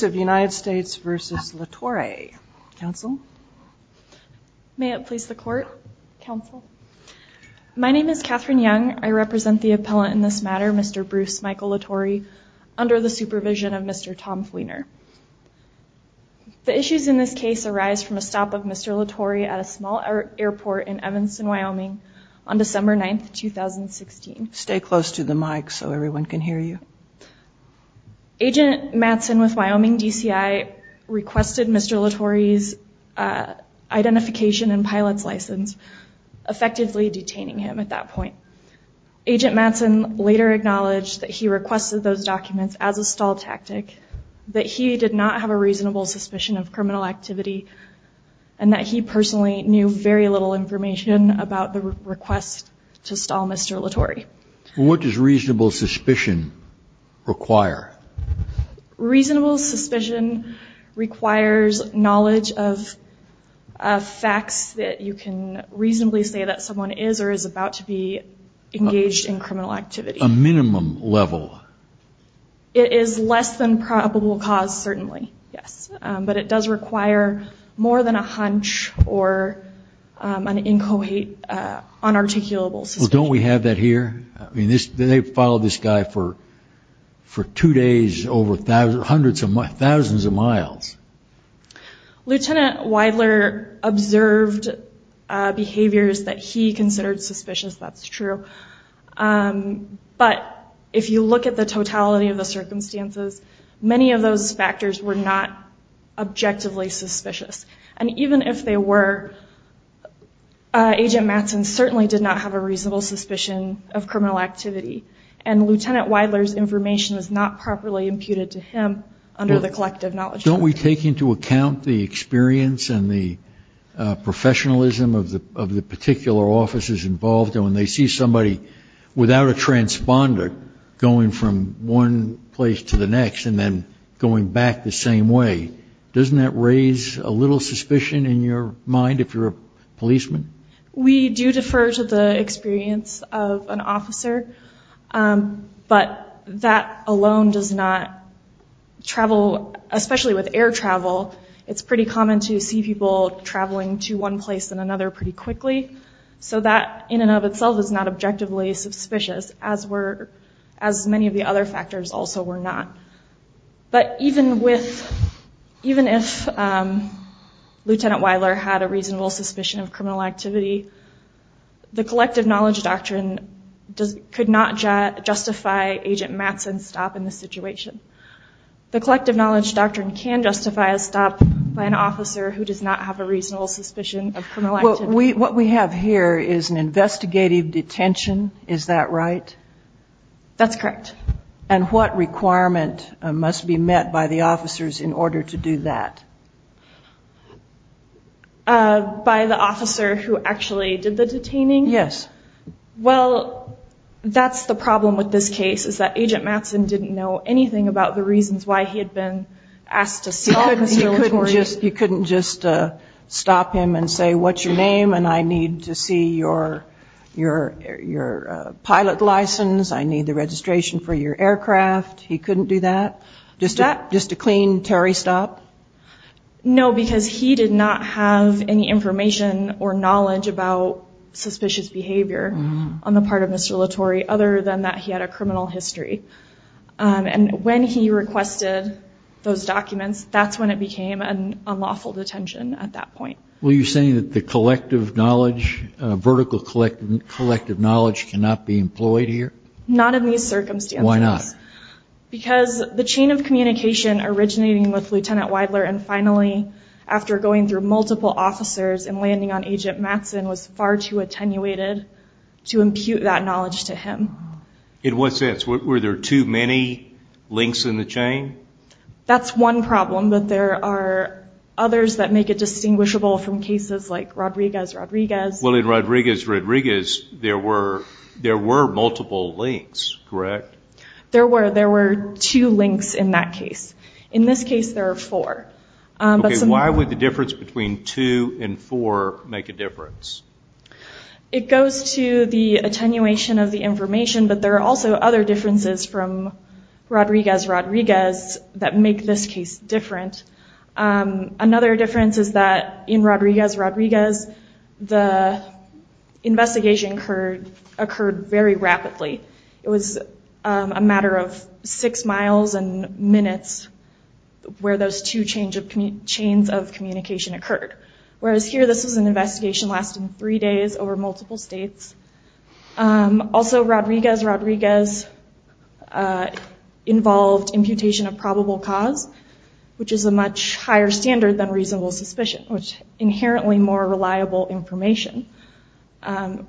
My name is Catherine Young. I represent the appellant in this matter, Mr. Bruce Michael Latorre, under the supervision of Mr. Tom Fleener. The issues in this case arise from a stop of Mr. Latorre at a small airport in Evanston, Wyoming, on December 9, 2016. Stay close to the mic so everyone can hear you. The Wyoming DCI requested Mr. Latorre's identification and pilot's license, effectively detaining him at that point. Agent Matson later acknowledged that he requested those documents as a stall tactic, that he did not have a reasonable suspicion of criminal activity, and that he personally knew very little information about the request to stall Mr. Latorre. What does reasonable suspicion require? Reasonable suspicion requires knowledge of facts that you can reasonably say that someone is or is about to be engaged in criminal activity. A minimum level? It is less than probable cause, certainly, yes. But it does require more than a hunch or an unarticulable suspicion. Don't we have that here? They followed this guy for two days over thousands of miles. Lieutenant Weidler observed behaviors that he considered suspicious, that's true. But if you look at the totality of the circumstances, many of those factors were not objectively suspicious. And even if they were, Agent Matson certainly did not have a reasonable suspicion of criminal activity, and Lieutenant Weidler's information was not properly imputed to him under the collective knowledge. Don't we take into account the experience and the professionalism of the particular officers involved, and when they see somebody without a transponder going from one place to the next and then going back the same way, doesn't that raise a little suspicion in your mind if you're a policeman? We do defer to the experience of an officer, but that alone does not travel, especially with air travel. It's pretty common to see people traveling to one place and another pretty quickly, so that in and of itself is not objectively suspicious, as many of the other factors also were not. But even if Lieutenant Weidler had a reasonable suspicion of criminal activity, the collective knowledge doctrine could not justify Agent Matson's stop in this situation. The collective knowledge doctrine can justify a stop by an officer who does not have a reasonable suspicion of criminal activity. What we have here is an investigative detention, is that right? That's correct. And what requirement must be met by the officers in order to do that? By the officer who actually did the detaining? Yes. Well, that's the problem with this case, is that Agent Matson didn't know anything about the reasons why he had been asked to see all the observatories. You couldn't just stop him and say, what's your name, and I need to see your pilot license, I need the registration for your aircraft. He couldn't do that? Just a clean, Terry stop? No, because he did not have any information or knowledge about suspicious behavior on the part of Mr. Latore, other than that he had a criminal history. And when he requested those documents, that's when it became an unlawful detention at that point. Were you saying that the collective knowledge, vertical collective knowledge, cannot be employed here? Not in these circumstances. Why not? Because the chain of communication originating with Lieutenant Weidler and finally after going through multiple officers and landing on Agent Matson was far too attenuated to impute that knowledge to him. In what sense? Were there too many links in the chain? That's one problem, but there are others that make it distinguishable from cases like Rodriguez-Rodriguez. Well, in Rodriguez-Rodriguez, there were multiple links, correct? There were two links in that case. In this case, there are four. Why would the difference between two and four make a difference? It goes to the attenuation of the information, but there are also other differences from Rodriguez-Rodriguez that make this case different. Another difference is that in Rodriguez-Rodriguez, the investigation occurred very rapidly. It was a matter of six miles and minutes where those two chains of communication occurred. Whereas here, this was an investigation lasting three days over multiple states. Also, Rodriguez-Rodriguez involved imputation of probable cause, which is a much higher standard than reasonable suspicion, which is inherently more reliable information.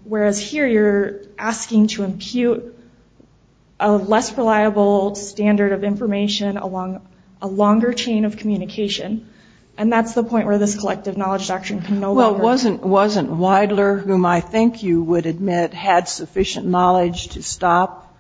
Whereas here, you're asking to impute a less reliable standard of information along a longer chain of communication, and that's the point where this collective knowledge doctrine can no longer work. Now, wasn't Weidler, whom I think you would admit had sufficient knowledge to stop,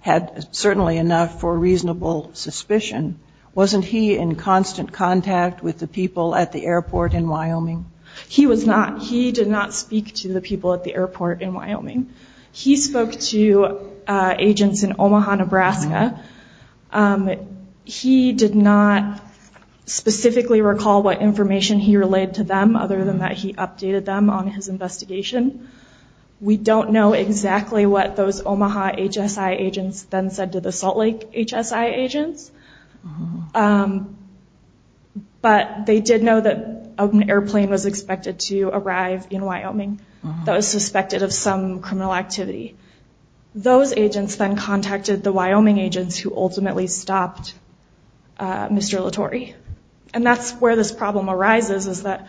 had certainly enough for reasonable suspicion, wasn't he in constant contact with the people at the airport in Wyoming? He was not. He did not speak to the people at the airport in Wyoming. He spoke to agents in Omaha, Nebraska. He did not specifically recall what information he relayed to them, other than that he updated them on his investigation. We don't know exactly what those Omaha HSI agents then said to the Salt Lake HSI agents, but they did know that an airplane was expected to arrive in Wyoming that was suspected of some criminal activity. Those agents then contacted the Wyoming agents who ultimately stopped Mr. Latorre. And that's where this problem arises, is that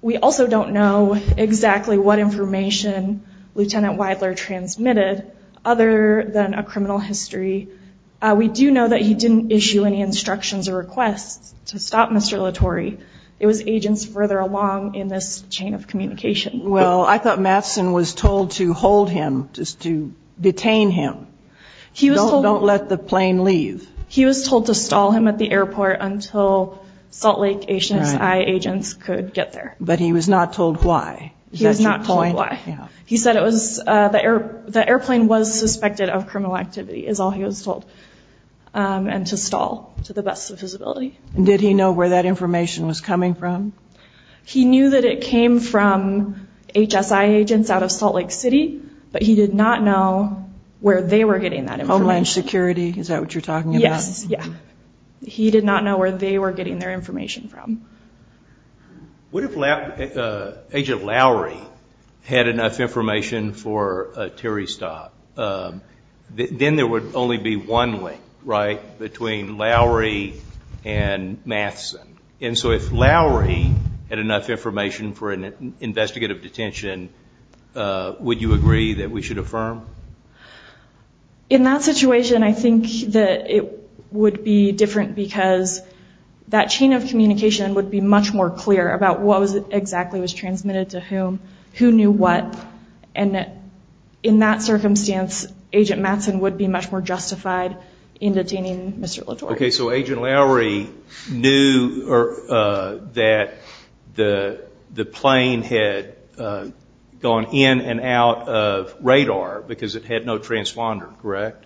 we also don't know exactly what information Lieutenant Weidler transmitted, other than a criminal history. We do know that he didn't issue any instructions or requests to stop Mr. Latorre. It was agents further along in this chain of communication. Well, I thought Matson was told to hold him, to detain him. Don't let the plane leave. He was told to stall him at the airport until Salt Lake HSI agents could get there. But he was not told why. He was not told why. He said the airplane was suspected of criminal activity, is all he was told, and to stall to the best of his ability. Did he know where that information was coming from? He knew that it came from HSI agents out of Salt Lake City, but he did not know where they were getting that information. Homeland Security, is that what you're talking about? Yes, yeah. He did not know where they were getting their information from. What if Agent Lowry had enough information for a Terry stop? Then there would only be one link, right, between Lowry and Matson. And so if Lowry had enough information for an investigative detention, would you agree that we should affirm? In that situation, I think that it would be different because that chain of communication would be much more clear about what exactly was transmitted to whom, who knew what, and in that circumstance, Agent Matson would be much more justified in detaining Mr. Latore. Okay, so Agent Lowry knew that the plane had gone in and out of radar because it had no transponder, correct?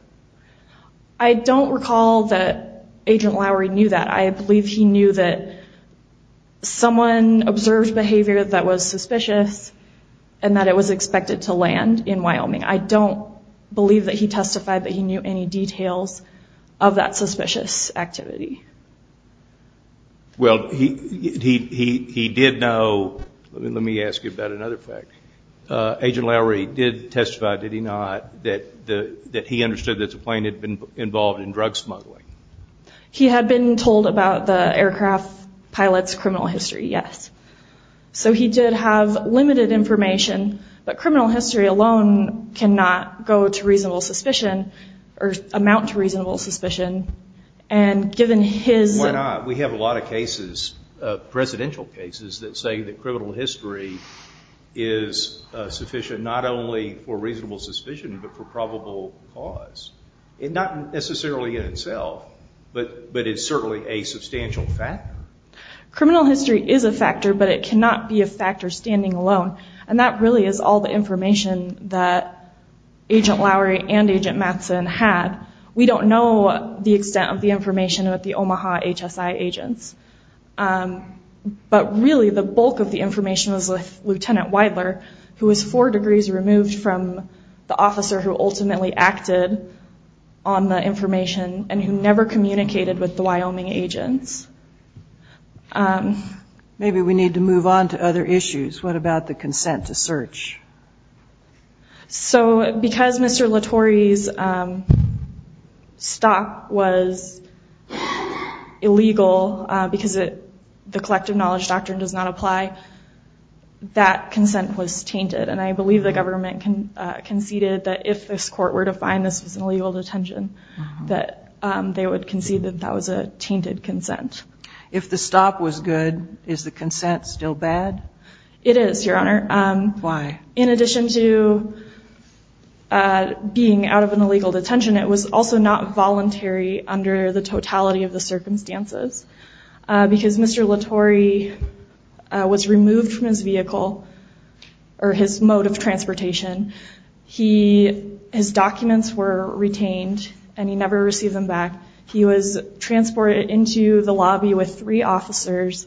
I don't recall that Agent Lowry knew that. I believe he knew that someone observed behavior that was suspicious I don't believe that he testified that he knew any details of that suspicious activity. Well, he did know, let me ask you about another fact, Agent Lowry did testify, did he not, that he understood that the plane had been involved in drug smuggling? He had been told about the aircraft pilot's criminal history, yes. So he did have limited information, but criminal history alone cannot go to reasonable suspicion or amount to reasonable suspicion, and given his... Why not? We have a lot of cases, presidential cases, that say that criminal history is sufficient not only for reasonable suspicion, but for probable cause. Not necessarily in itself, but it's certainly a substantial factor. Criminal history is a factor, but it cannot be a factor standing alone, and that really is all the information that Agent Lowry and Agent Mattson had. We don't know the extent of the information with the Omaha HSI agents, but really the bulk of the information was with Lieutenant Weidler, who was four degrees removed from the officer who ultimately acted on the information and who never communicated with the Wyoming agents. Maybe we need to move on to other issues. What about the consent to search? So because Mr. Latore's stop was illegal because the collective knowledge doctrine does not apply, that consent was tainted, and I believe the government conceded that if this court were to find this was an illegal detention, that they would concede that that was a tainted consent. If the stop was good, is the consent still bad? It is, Your Honor. Why? In addition to being out of an illegal detention, it was also not voluntary under the totality of the circumstances because Mr. Latore was removed from his vehicle or his mode of transportation. His documents were retained, and he never received them back. He was transported into the lobby with three officers,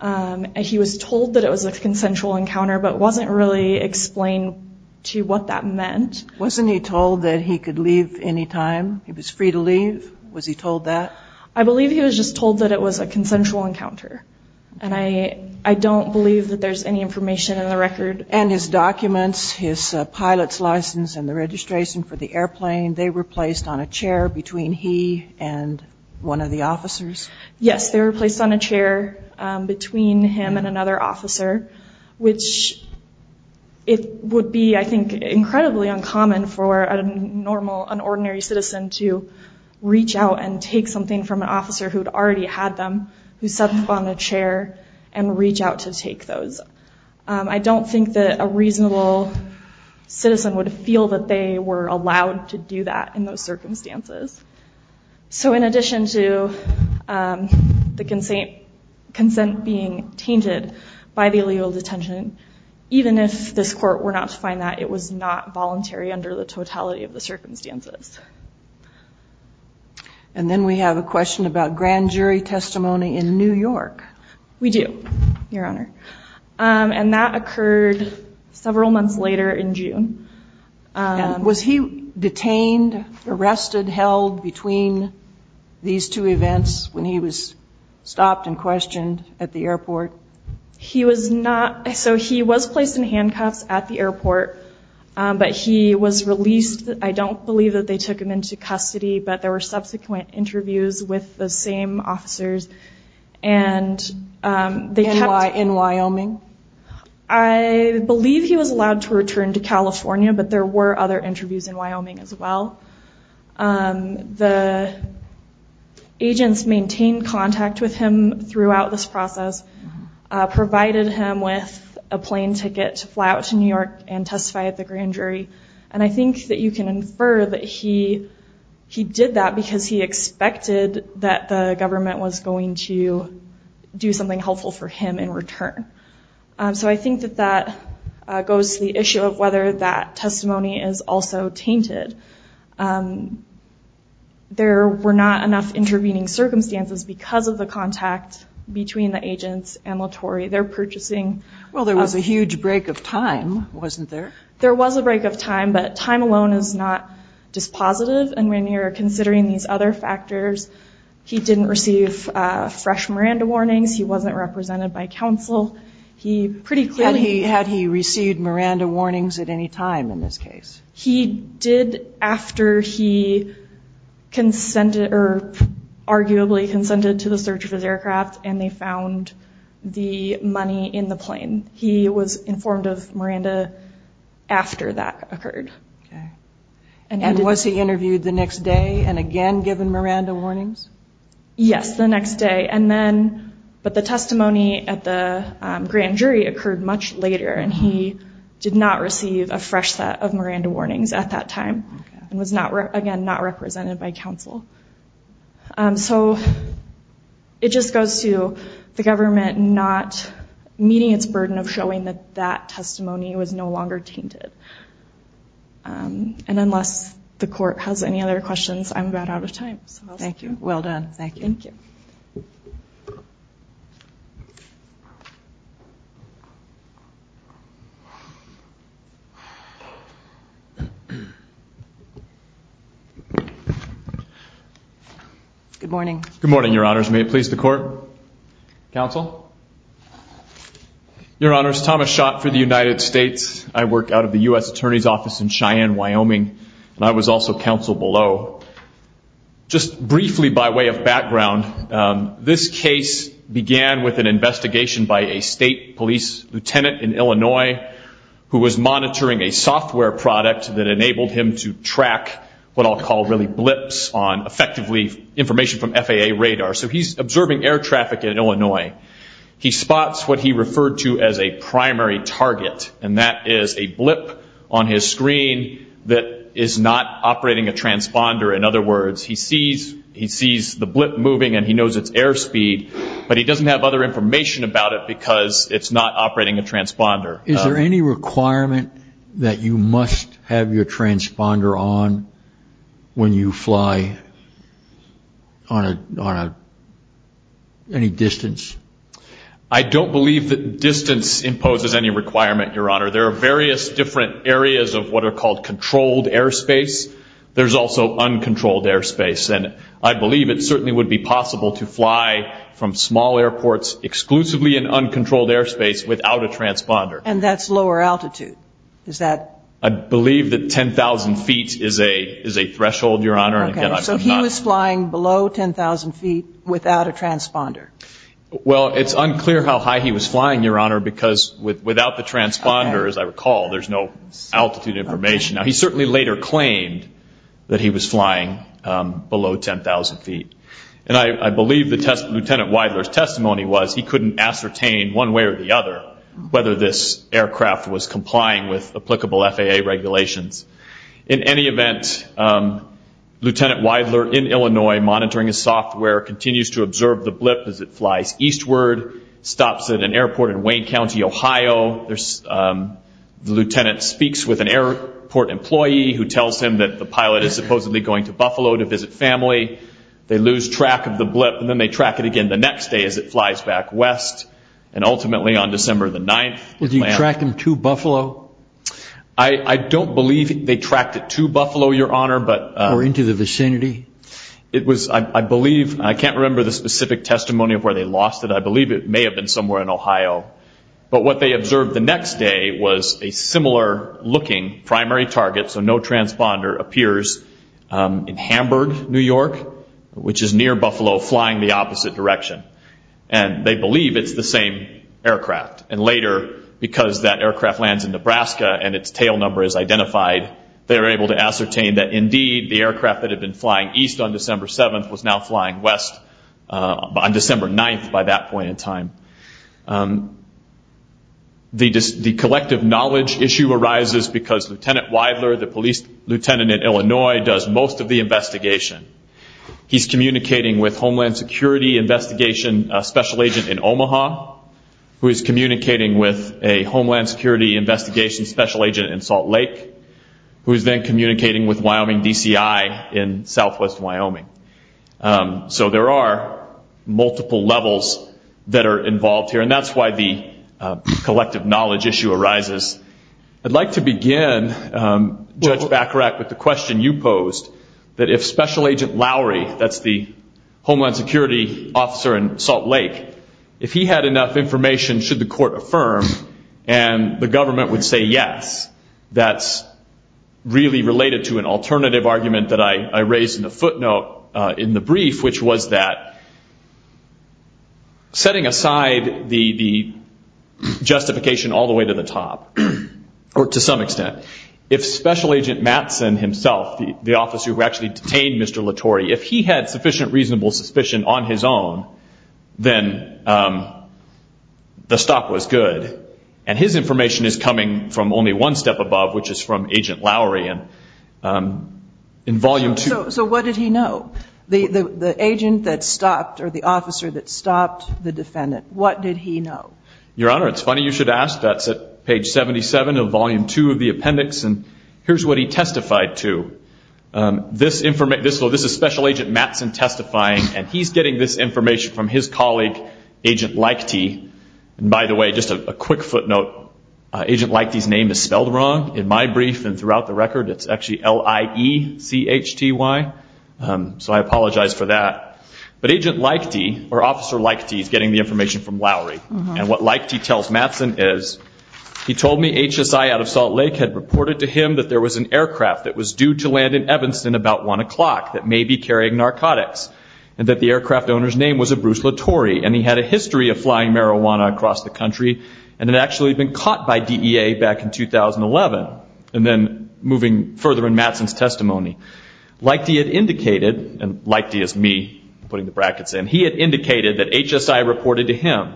and he was told that it was a consensual encounter, but it wasn't really explained to what that meant. Wasn't he told that he could leave any time? He was free to leave? Was he told that? I believe he was just told that it was a consensual encounter, and I don't believe that there's any information in the record. And his documents, his pilot's license, and the registration for the airplane, they were placed on a chair between he and one of the officers? Yes, they were placed on a chair between him and another officer, which it would be, I think, incredibly uncommon for a normal, an ordinary citizen to reach out and take something from an officer who had already had them, who sat on a chair, and reach out to take those. I don't think that a reasonable citizen would feel that they were allowed to do that in those circumstances. So in addition to the consent being tainted by the illegal detention, even if this court were not to find that, it was not voluntary under the totality of the circumstances. And then we have a question about grand jury testimony in New York. We do, Your Honor. And that occurred several months later in June. Was he detained, arrested, held between these two events when he was stopped and questioned at the airport? He was not. So he was placed in handcuffs at the airport, but he was released. I don't believe that they took him into custody, but there were subsequent interviews with the same officers, and they kept- And why in Wyoming? I believe he was allowed to return to California, but there were other interviews in Wyoming as well. The agents maintained contact with him throughout this process, provided him with a plane ticket to fly out to New York and testify at the grand jury. And I think that you can infer that he did that because he expected that the government was going to do something helpful for him in return. So I think that that goes to the issue of whether that testimony is also tainted. There were not enough intervening circumstances because of the contact between the agents and Latore. They're purchasing- Well, there was a huge break of time, wasn't there? There was a break of time, but time alone is not dispositive. And when you're considering these other factors, he didn't receive fresh Miranda warnings. He wasn't represented by counsel. He pretty clearly- Had he received Miranda warnings at any time in this case? He did after he consented or arguably consented to the search of his aircraft, and they found the money in the plane. He was informed of Miranda after that occurred. And was he interviewed the next day and again given Miranda warnings? Yes, the next day. But the testimony at the grand jury occurred much later, and he did not receive a fresh set of Miranda warnings at that time So it just goes to the government not meeting its burden of showing that that testimony was no longer tainted. And unless the court has any other questions, I'm about out of time. Thank you. Well done. Thank you. Good morning. Good morning, Your Honors. May it please the court? Counsel? Your Honors, Thomas Schott for the United States. I work out of the U.S. Attorney's Office in Cheyenne, Wyoming. And I was also counsel below. Just briefly by way of background, this case began with an investigation by a state police lieutenant in Illinois who was monitoring a software product that enabled him to track what I'll call really blips on effectively information from FAA radar. So he's observing air traffic in Illinois. He spots what he referred to as a primary target. And that is a blip on his screen that is not operating a transponder. In other words, he sees the blip moving and he knows its airspeed, but he doesn't have other information about it because it's not operating a transponder. Is there any requirement that you must have your transponder on when you fly on any distance? I don't believe that distance imposes any requirement, Your Honor. There are various different areas of what are called controlled airspace. There's also uncontrolled airspace. And I believe it certainly would be possible to fly from small airports exclusively in uncontrolled airspace without a transponder. And that's lower altitude? I believe that 10,000 feet is a threshold, Your Honor. Okay, so he was flying below 10,000 feet without a transponder. Well, it's unclear how high he was flying, Your Honor, because without the transponder, as I recall, there's no altitude information. Now, he certainly later claimed that he was flying below 10,000 feet. And I believe that Lieutenant Weidler's testimony was he couldn't ascertain one way or the other whether this aircraft was complying with applicable FAA regulations. In any event, Lieutenant Weidler in Illinois monitoring his software continues to observe the blip as it flies eastward, stops at an airport in Wayne County, Ohio. The lieutenant speaks with an airport employee who tells him that the pilot is supposedly going to Buffalo to visit family. They lose track of the blip, and then they track it again the next day as it flies back west. And ultimately, on December the 9th, land. Did you track him to Buffalo? I don't believe they tracked it to Buffalo, Your Honor. Or into the vicinity? I can't remember the specific testimony of where they lost it. I believe it may have been somewhere in Ohio. But what they observed the next day was a similar-looking primary target, so no transponder, appears in Hamburg, New York, which is near Buffalo, flying the opposite direction. And they believe it's the same aircraft. And later, because that aircraft lands in Nebraska and its tail number is identified, they are able to ascertain that indeed the aircraft that had been flying east on December 7th was now flying west on December 9th by that point in time. The collective knowledge issue arises because Lieutenant Weidler, the police lieutenant in Illinois, does most of the investigation. He's communicating with Homeland Security Investigation Special Agent in Omaha, who is communicating with a Homeland Security Investigation Special Agent in Salt Lake, who is then communicating with Wyoming DCI in southwest Wyoming. So there are multiple levels that are involved here, and that's why the collective knowledge issue arises. I'd like to begin, Judge Bacharach, with the question you posed, that if Special Agent Lowry, that's the Homeland Security officer in Salt Lake, if he had enough information, should the court affirm, and the government would say yes, that's really related to an alternative argument that I raised in the footnote in the brief, which was that setting aside the justification all the way to the top, or to some extent, if Special Agent Mattson himself, the officer who actually detained Mr. Latore, if he had sufficient reasonable suspicion on his own, then the stop was good. And his information is coming from only one step above, which is from Agent Lowry in Volume 2. So what did he know? The agent that stopped, or the officer that stopped the defendant, what did he know? Your Honor, it's funny you should ask. That's at page 77 of Volume 2 of the appendix, and here's what he testified to. This is Special Agent Mattson testifying, and he's getting this information from his colleague, Agent Leichty. And by the way, just a quick footnote, Agent Leichty's name is spelled wrong. In my brief and throughout the record, it's actually L-I-E-C-H-T-Y, so I apologize for that. But Agent Leichty, or Officer Leichty, is getting the information from Lowry. And what Leichty tells Mattson is, he told me HSI out of Salt Lake had reported to him that there was an aircraft that was due to land in Evanston about 1 o'clock that may be carrying narcotics, and that the aircraft owner's name was a Bruce Latore, and he had a history of flying marijuana across the country, and had actually been caught by DEA back in 2011. And then moving further in Mattson's testimony, Leichty had indicated, and Leichty is me putting the brackets in, and he had indicated that HSI reported to him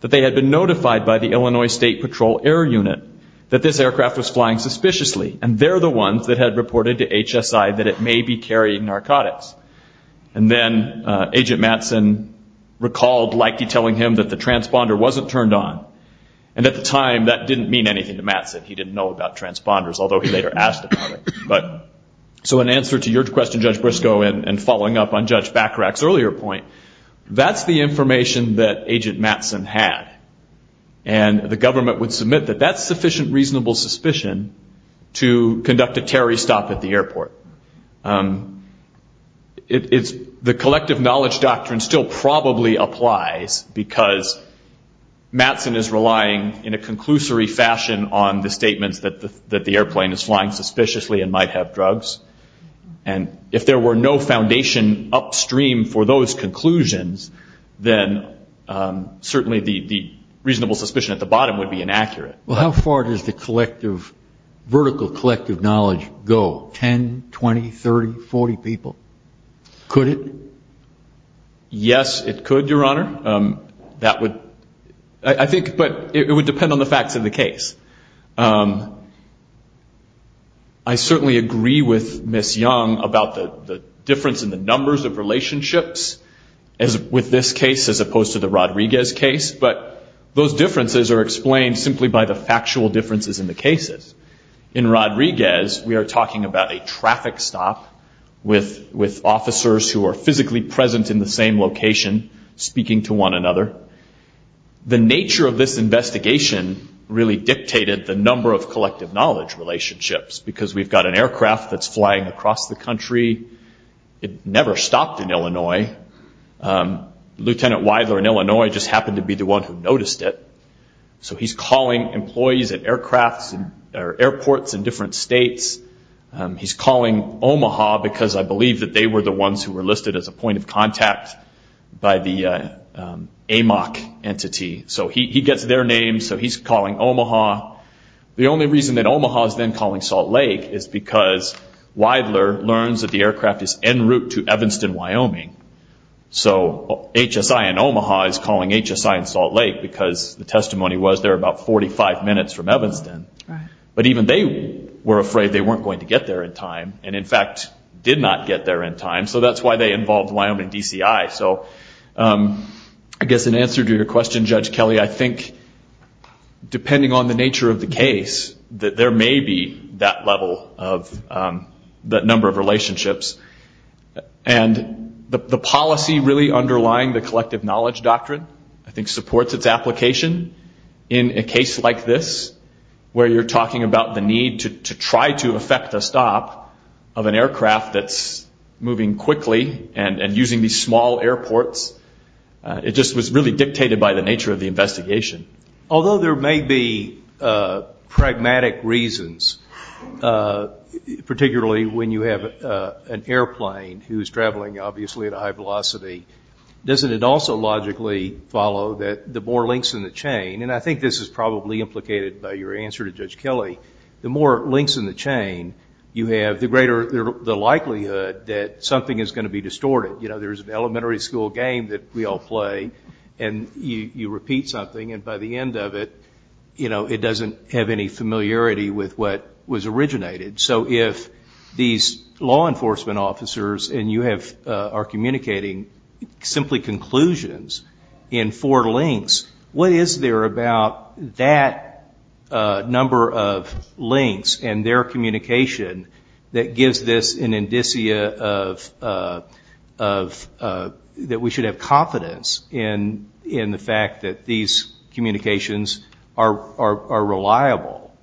that they had been notified by the Illinois State Patrol Air Unit that this aircraft was flying suspiciously, and they're the ones that had reported to HSI that it may be carrying narcotics. And then Agent Mattson recalled Leichty telling him that the transponder wasn't turned on. And at the time, that didn't mean anything to Mattson. He didn't know about transponders, although he later asked about it. So in answer to your question, Judge Briscoe, and following up on Judge Bacharach's earlier point, that's the information that Agent Mattson had. And the government would submit that that's sufficient reasonable suspicion to conduct a terrorist stop at the airport. The collective knowledge doctrine still probably applies because Mattson is relying in a conclusory fashion on the statements that the airplane is flying suspiciously and might have drugs. And if there were no foundation upstream for those conclusions, then certainly the reasonable suspicion at the bottom would be inaccurate. Well, how far does the vertical collective knowledge go, 10, 20, 30, 40 people? Could it? Yes, it could, Your Honor. I think it would depend on the facts of the case. I certainly agree with Ms. Young about the difference in the numbers of relationships with this case as opposed to the Rodriguez case. But those differences are explained simply by the factual differences in the cases. In Rodriguez, we are talking about a traffic stop with officers who are physically present in the same location, speaking to one another. The nature of this investigation really dictated the number of collective knowledge relationships because we've got an aircraft that's flying across the country. It never stopped in Illinois. Lieutenant Weidler in Illinois just happened to be the one who noticed it. So he's calling employees at airports in different states. He's calling Omaha because I believe that they were the ones who were listed as a point of contact by the AMOC entity. So he gets their names. So he's calling Omaha. The only reason that Omaha is then calling Salt Lake is because Weidler learns that the aircraft is en route to Evanston, Wyoming. So HSI in Omaha is calling HSI in Salt Lake because the testimony was they're about 45 minutes from Evanston. But even they were afraid they weren't going to get there in time and, in fact, did not get there in time. So that's why they involved Wyoming DCI. So I guess in answer to your question, Judge Kelly, I think, depending on the nature of the case, that there may be that level of that number of relationships. And the policy really underlying the collective knowledge doctrine, I think, in a case like this where you're talking about the need to try to effect a stop of an aircraft that's moving quickly and using these small airports, it just was really dictated by the nature of the investigation. Although there may be pragmatic reasons, particularly when you have an airplane who's traveling, obviously, at a high velocity, doesn't it also logically follow that the more links in the chain, and I think this is probably implicated by your answer to Judge Kelly, the more links in the chain you have, the greater the likelihood that something is going to be distorted. You know, there's an elementary school game that we all play, and you repeat something, and by the end of it, you know, it doesn't have any familiarity with what was originated. So if these law enforcement officers and you are communicating simply conclusions in four links, what is there about that number of links and their communication that gives this an indicia that we should have confidence in the fact that these communications are reliable?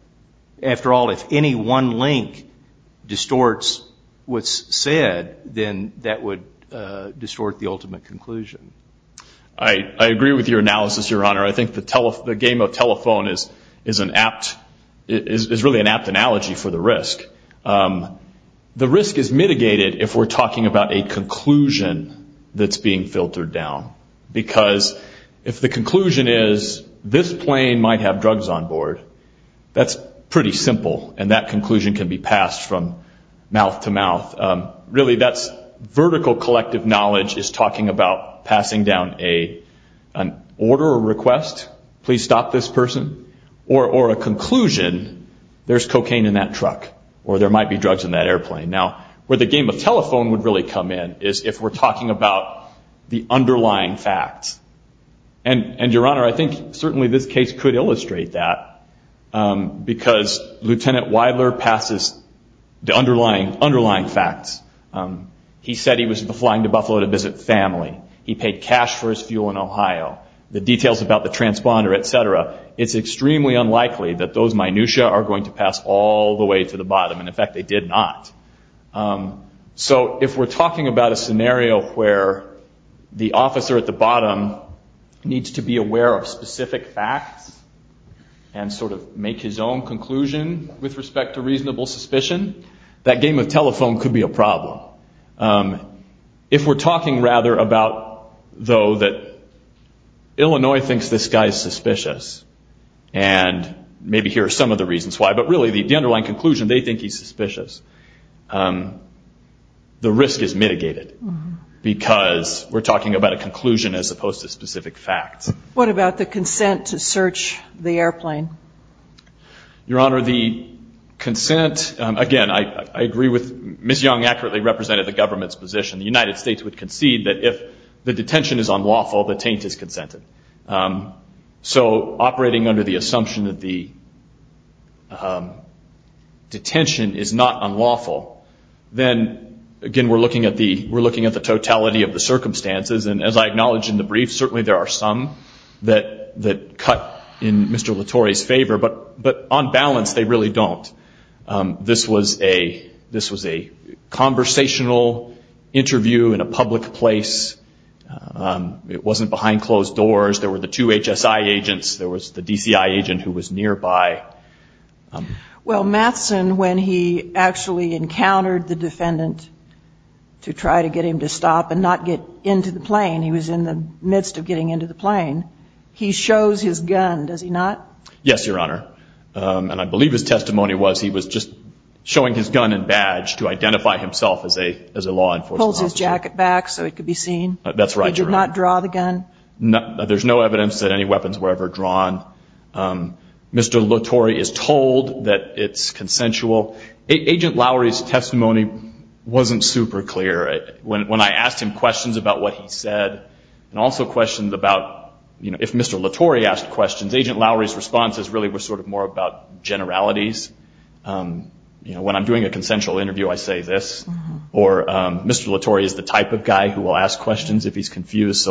After all, if any one link distorts what's said, then that would distort the ultimate conclusion. I agree with your analysis, Your Honor. I think the game of telephone is really an apt analogy for the risk. The risk is mitigated if we're talking about a conclusion that's being filtered down, because if the conclusion is this plane might have drugs on board, that's pretty simple, and that conclusion can be passed from mouth to mouth. Really, that's vertical collective knowledge is talking about passing down an order or request, please stop this person, or a conclusion, there's cocaine in that truck, or there might be drugs in that airplane. Now, where the game of telephone would really come in is if we're talking about the underlying facts. Your Honor, I think certainly this case could illustrate that, because Lieutenant Weiler passes the underlying facts. He said he was flying to Buffalo to visit family. He paid cash for his fuel in Ohio. The details about the transponder, et cetera, it's extremely unlikely that those minutia are going to pass all the way to the bottom, and, in fact, they did not. So if we're talking about a scenario where the officer at the bottom needs to be aware of specific facts and sort of make his own conclusion with respect to reasonable suspicion, that game of telephone could be a problem. If we're talking, rather, about, though, that Illinois thinks this guy is suspicious, and maybe here are some of the reasons why, but really the underlying conclusion, they think he's suspicious, the risk is mitigated because we're talking about a conclusion as opposed to specific facts. What about the consent to search the airplane? Your Honor, the consent, again, I agree with Ms. Young accurately represented the government's position. The United States would concede that if the detention is unlawful, the taint is consented. So operating under the assumption that the detention is not unlawful, then, again, we're looking at the totality of the circumstances, and as I acknowledged in the brief, certainly there are some that cut in Mr. Latore's favor, but on balance, they really don't. This was a conversational interview in a public place. It wasn't behind closed doors. There were the two HSI agents. There was the DCI agent who was nearby. Well, Matheson, when he actually encountered the defendant to try to get him to stop and not get into the plane, he was in the midst of getting into the plane, he shows his gun, does he not? Yes, Your Honor, and I believe his testimony was he was just showing his gun and badge to identify himself as a law enforcement officer. He had his jacket back so he could be seen? That's right, Your Honor. He did not draw the gun? There's no evidence that any weapons were ever drawn. Mr. Latore is told that it's consensual. Agent Lowry's testimony wasn't super clear. When I asked him questions about what he said and also questions about if Mr. Latore asked questions, Agent Lowry's responses really were sort of more about generalities. You know, when I'm doing a consensual interview, I say this, or Mr. Latore is the type of guy who will ask questions if he's confused,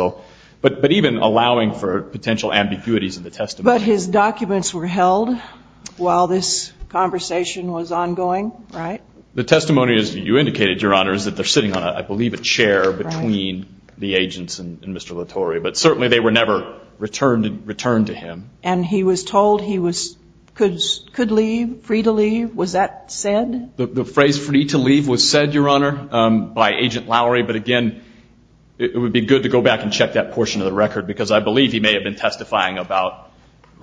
but even allowing for potential ambiguities in the testimony. But his documents were held while this conversation was ongoing, right? The testimony, as you indicated, Your Honor, is that they're sitting on, I believe, a chair between the agents and Mr. Latore, but certainly they were never returned to him. And he was told he could leave, free to leave? Was that said? The phrase free to leave was said, Your Honor, by Agent Lowry, but again, it would be good to go back and check that portion of the record because I believe he may have been testifying about,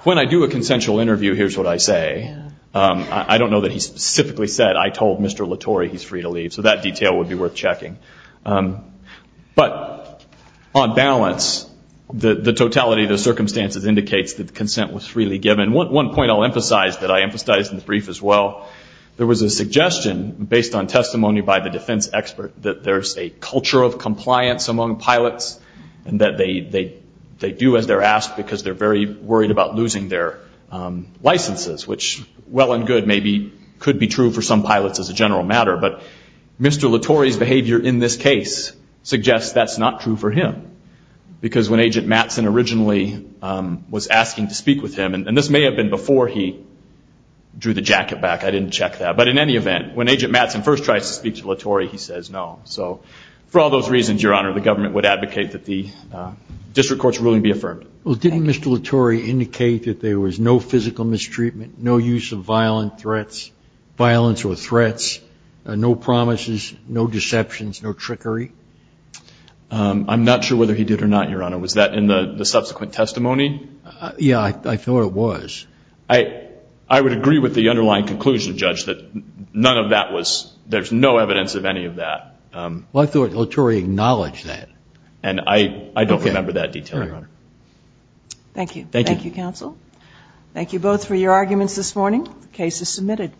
when I do a consensual interview, here's what I say. I don't know that he specifically said, I told Mr. Latore he's free to leave, so that detail would be worth checking. But on balance, the totality of the circumstances indicates that consent was freely given. One point I'll emphasize that I emphasized in the brief as well, there was a suggestion, based on testimony by the defense expert, that there's a culture of compliance among pilots and that they do as they're asked because they're very worried about losing their licenses, which, well and good, maybe could be true for some pilots as a general matter. But Mr. Latore's behavior in this case suggests that's not true for him because when Agent Mattson originally was asking to speak with him, and this may have been before he drew the jacket back, I didn't check that, but in any event, when Agent Mattson first tries to speak to Latore, he says no. So for all those reasons, Your Honor, the government would advocate that the district court's ruling be affirmed. Well, didn't Mr. Latore indicate that there was no physical mistreatment, no use of violent threats, violence or threats, no promises, no deceptions, no trickery? I'm not sure whether he did or not, Your Honor. Was that in the subsequent testimony? Yeah, I thought it was. I would agree with the underlying conclusion, Judge, that none of that was, there's no evidence of any of that. Well, I thought Latore acknowledged that. And I don't remember that detail, Your Honor. Thank you. Thank you, counsel. Thank you both for your arguments this morning. The case is submitted.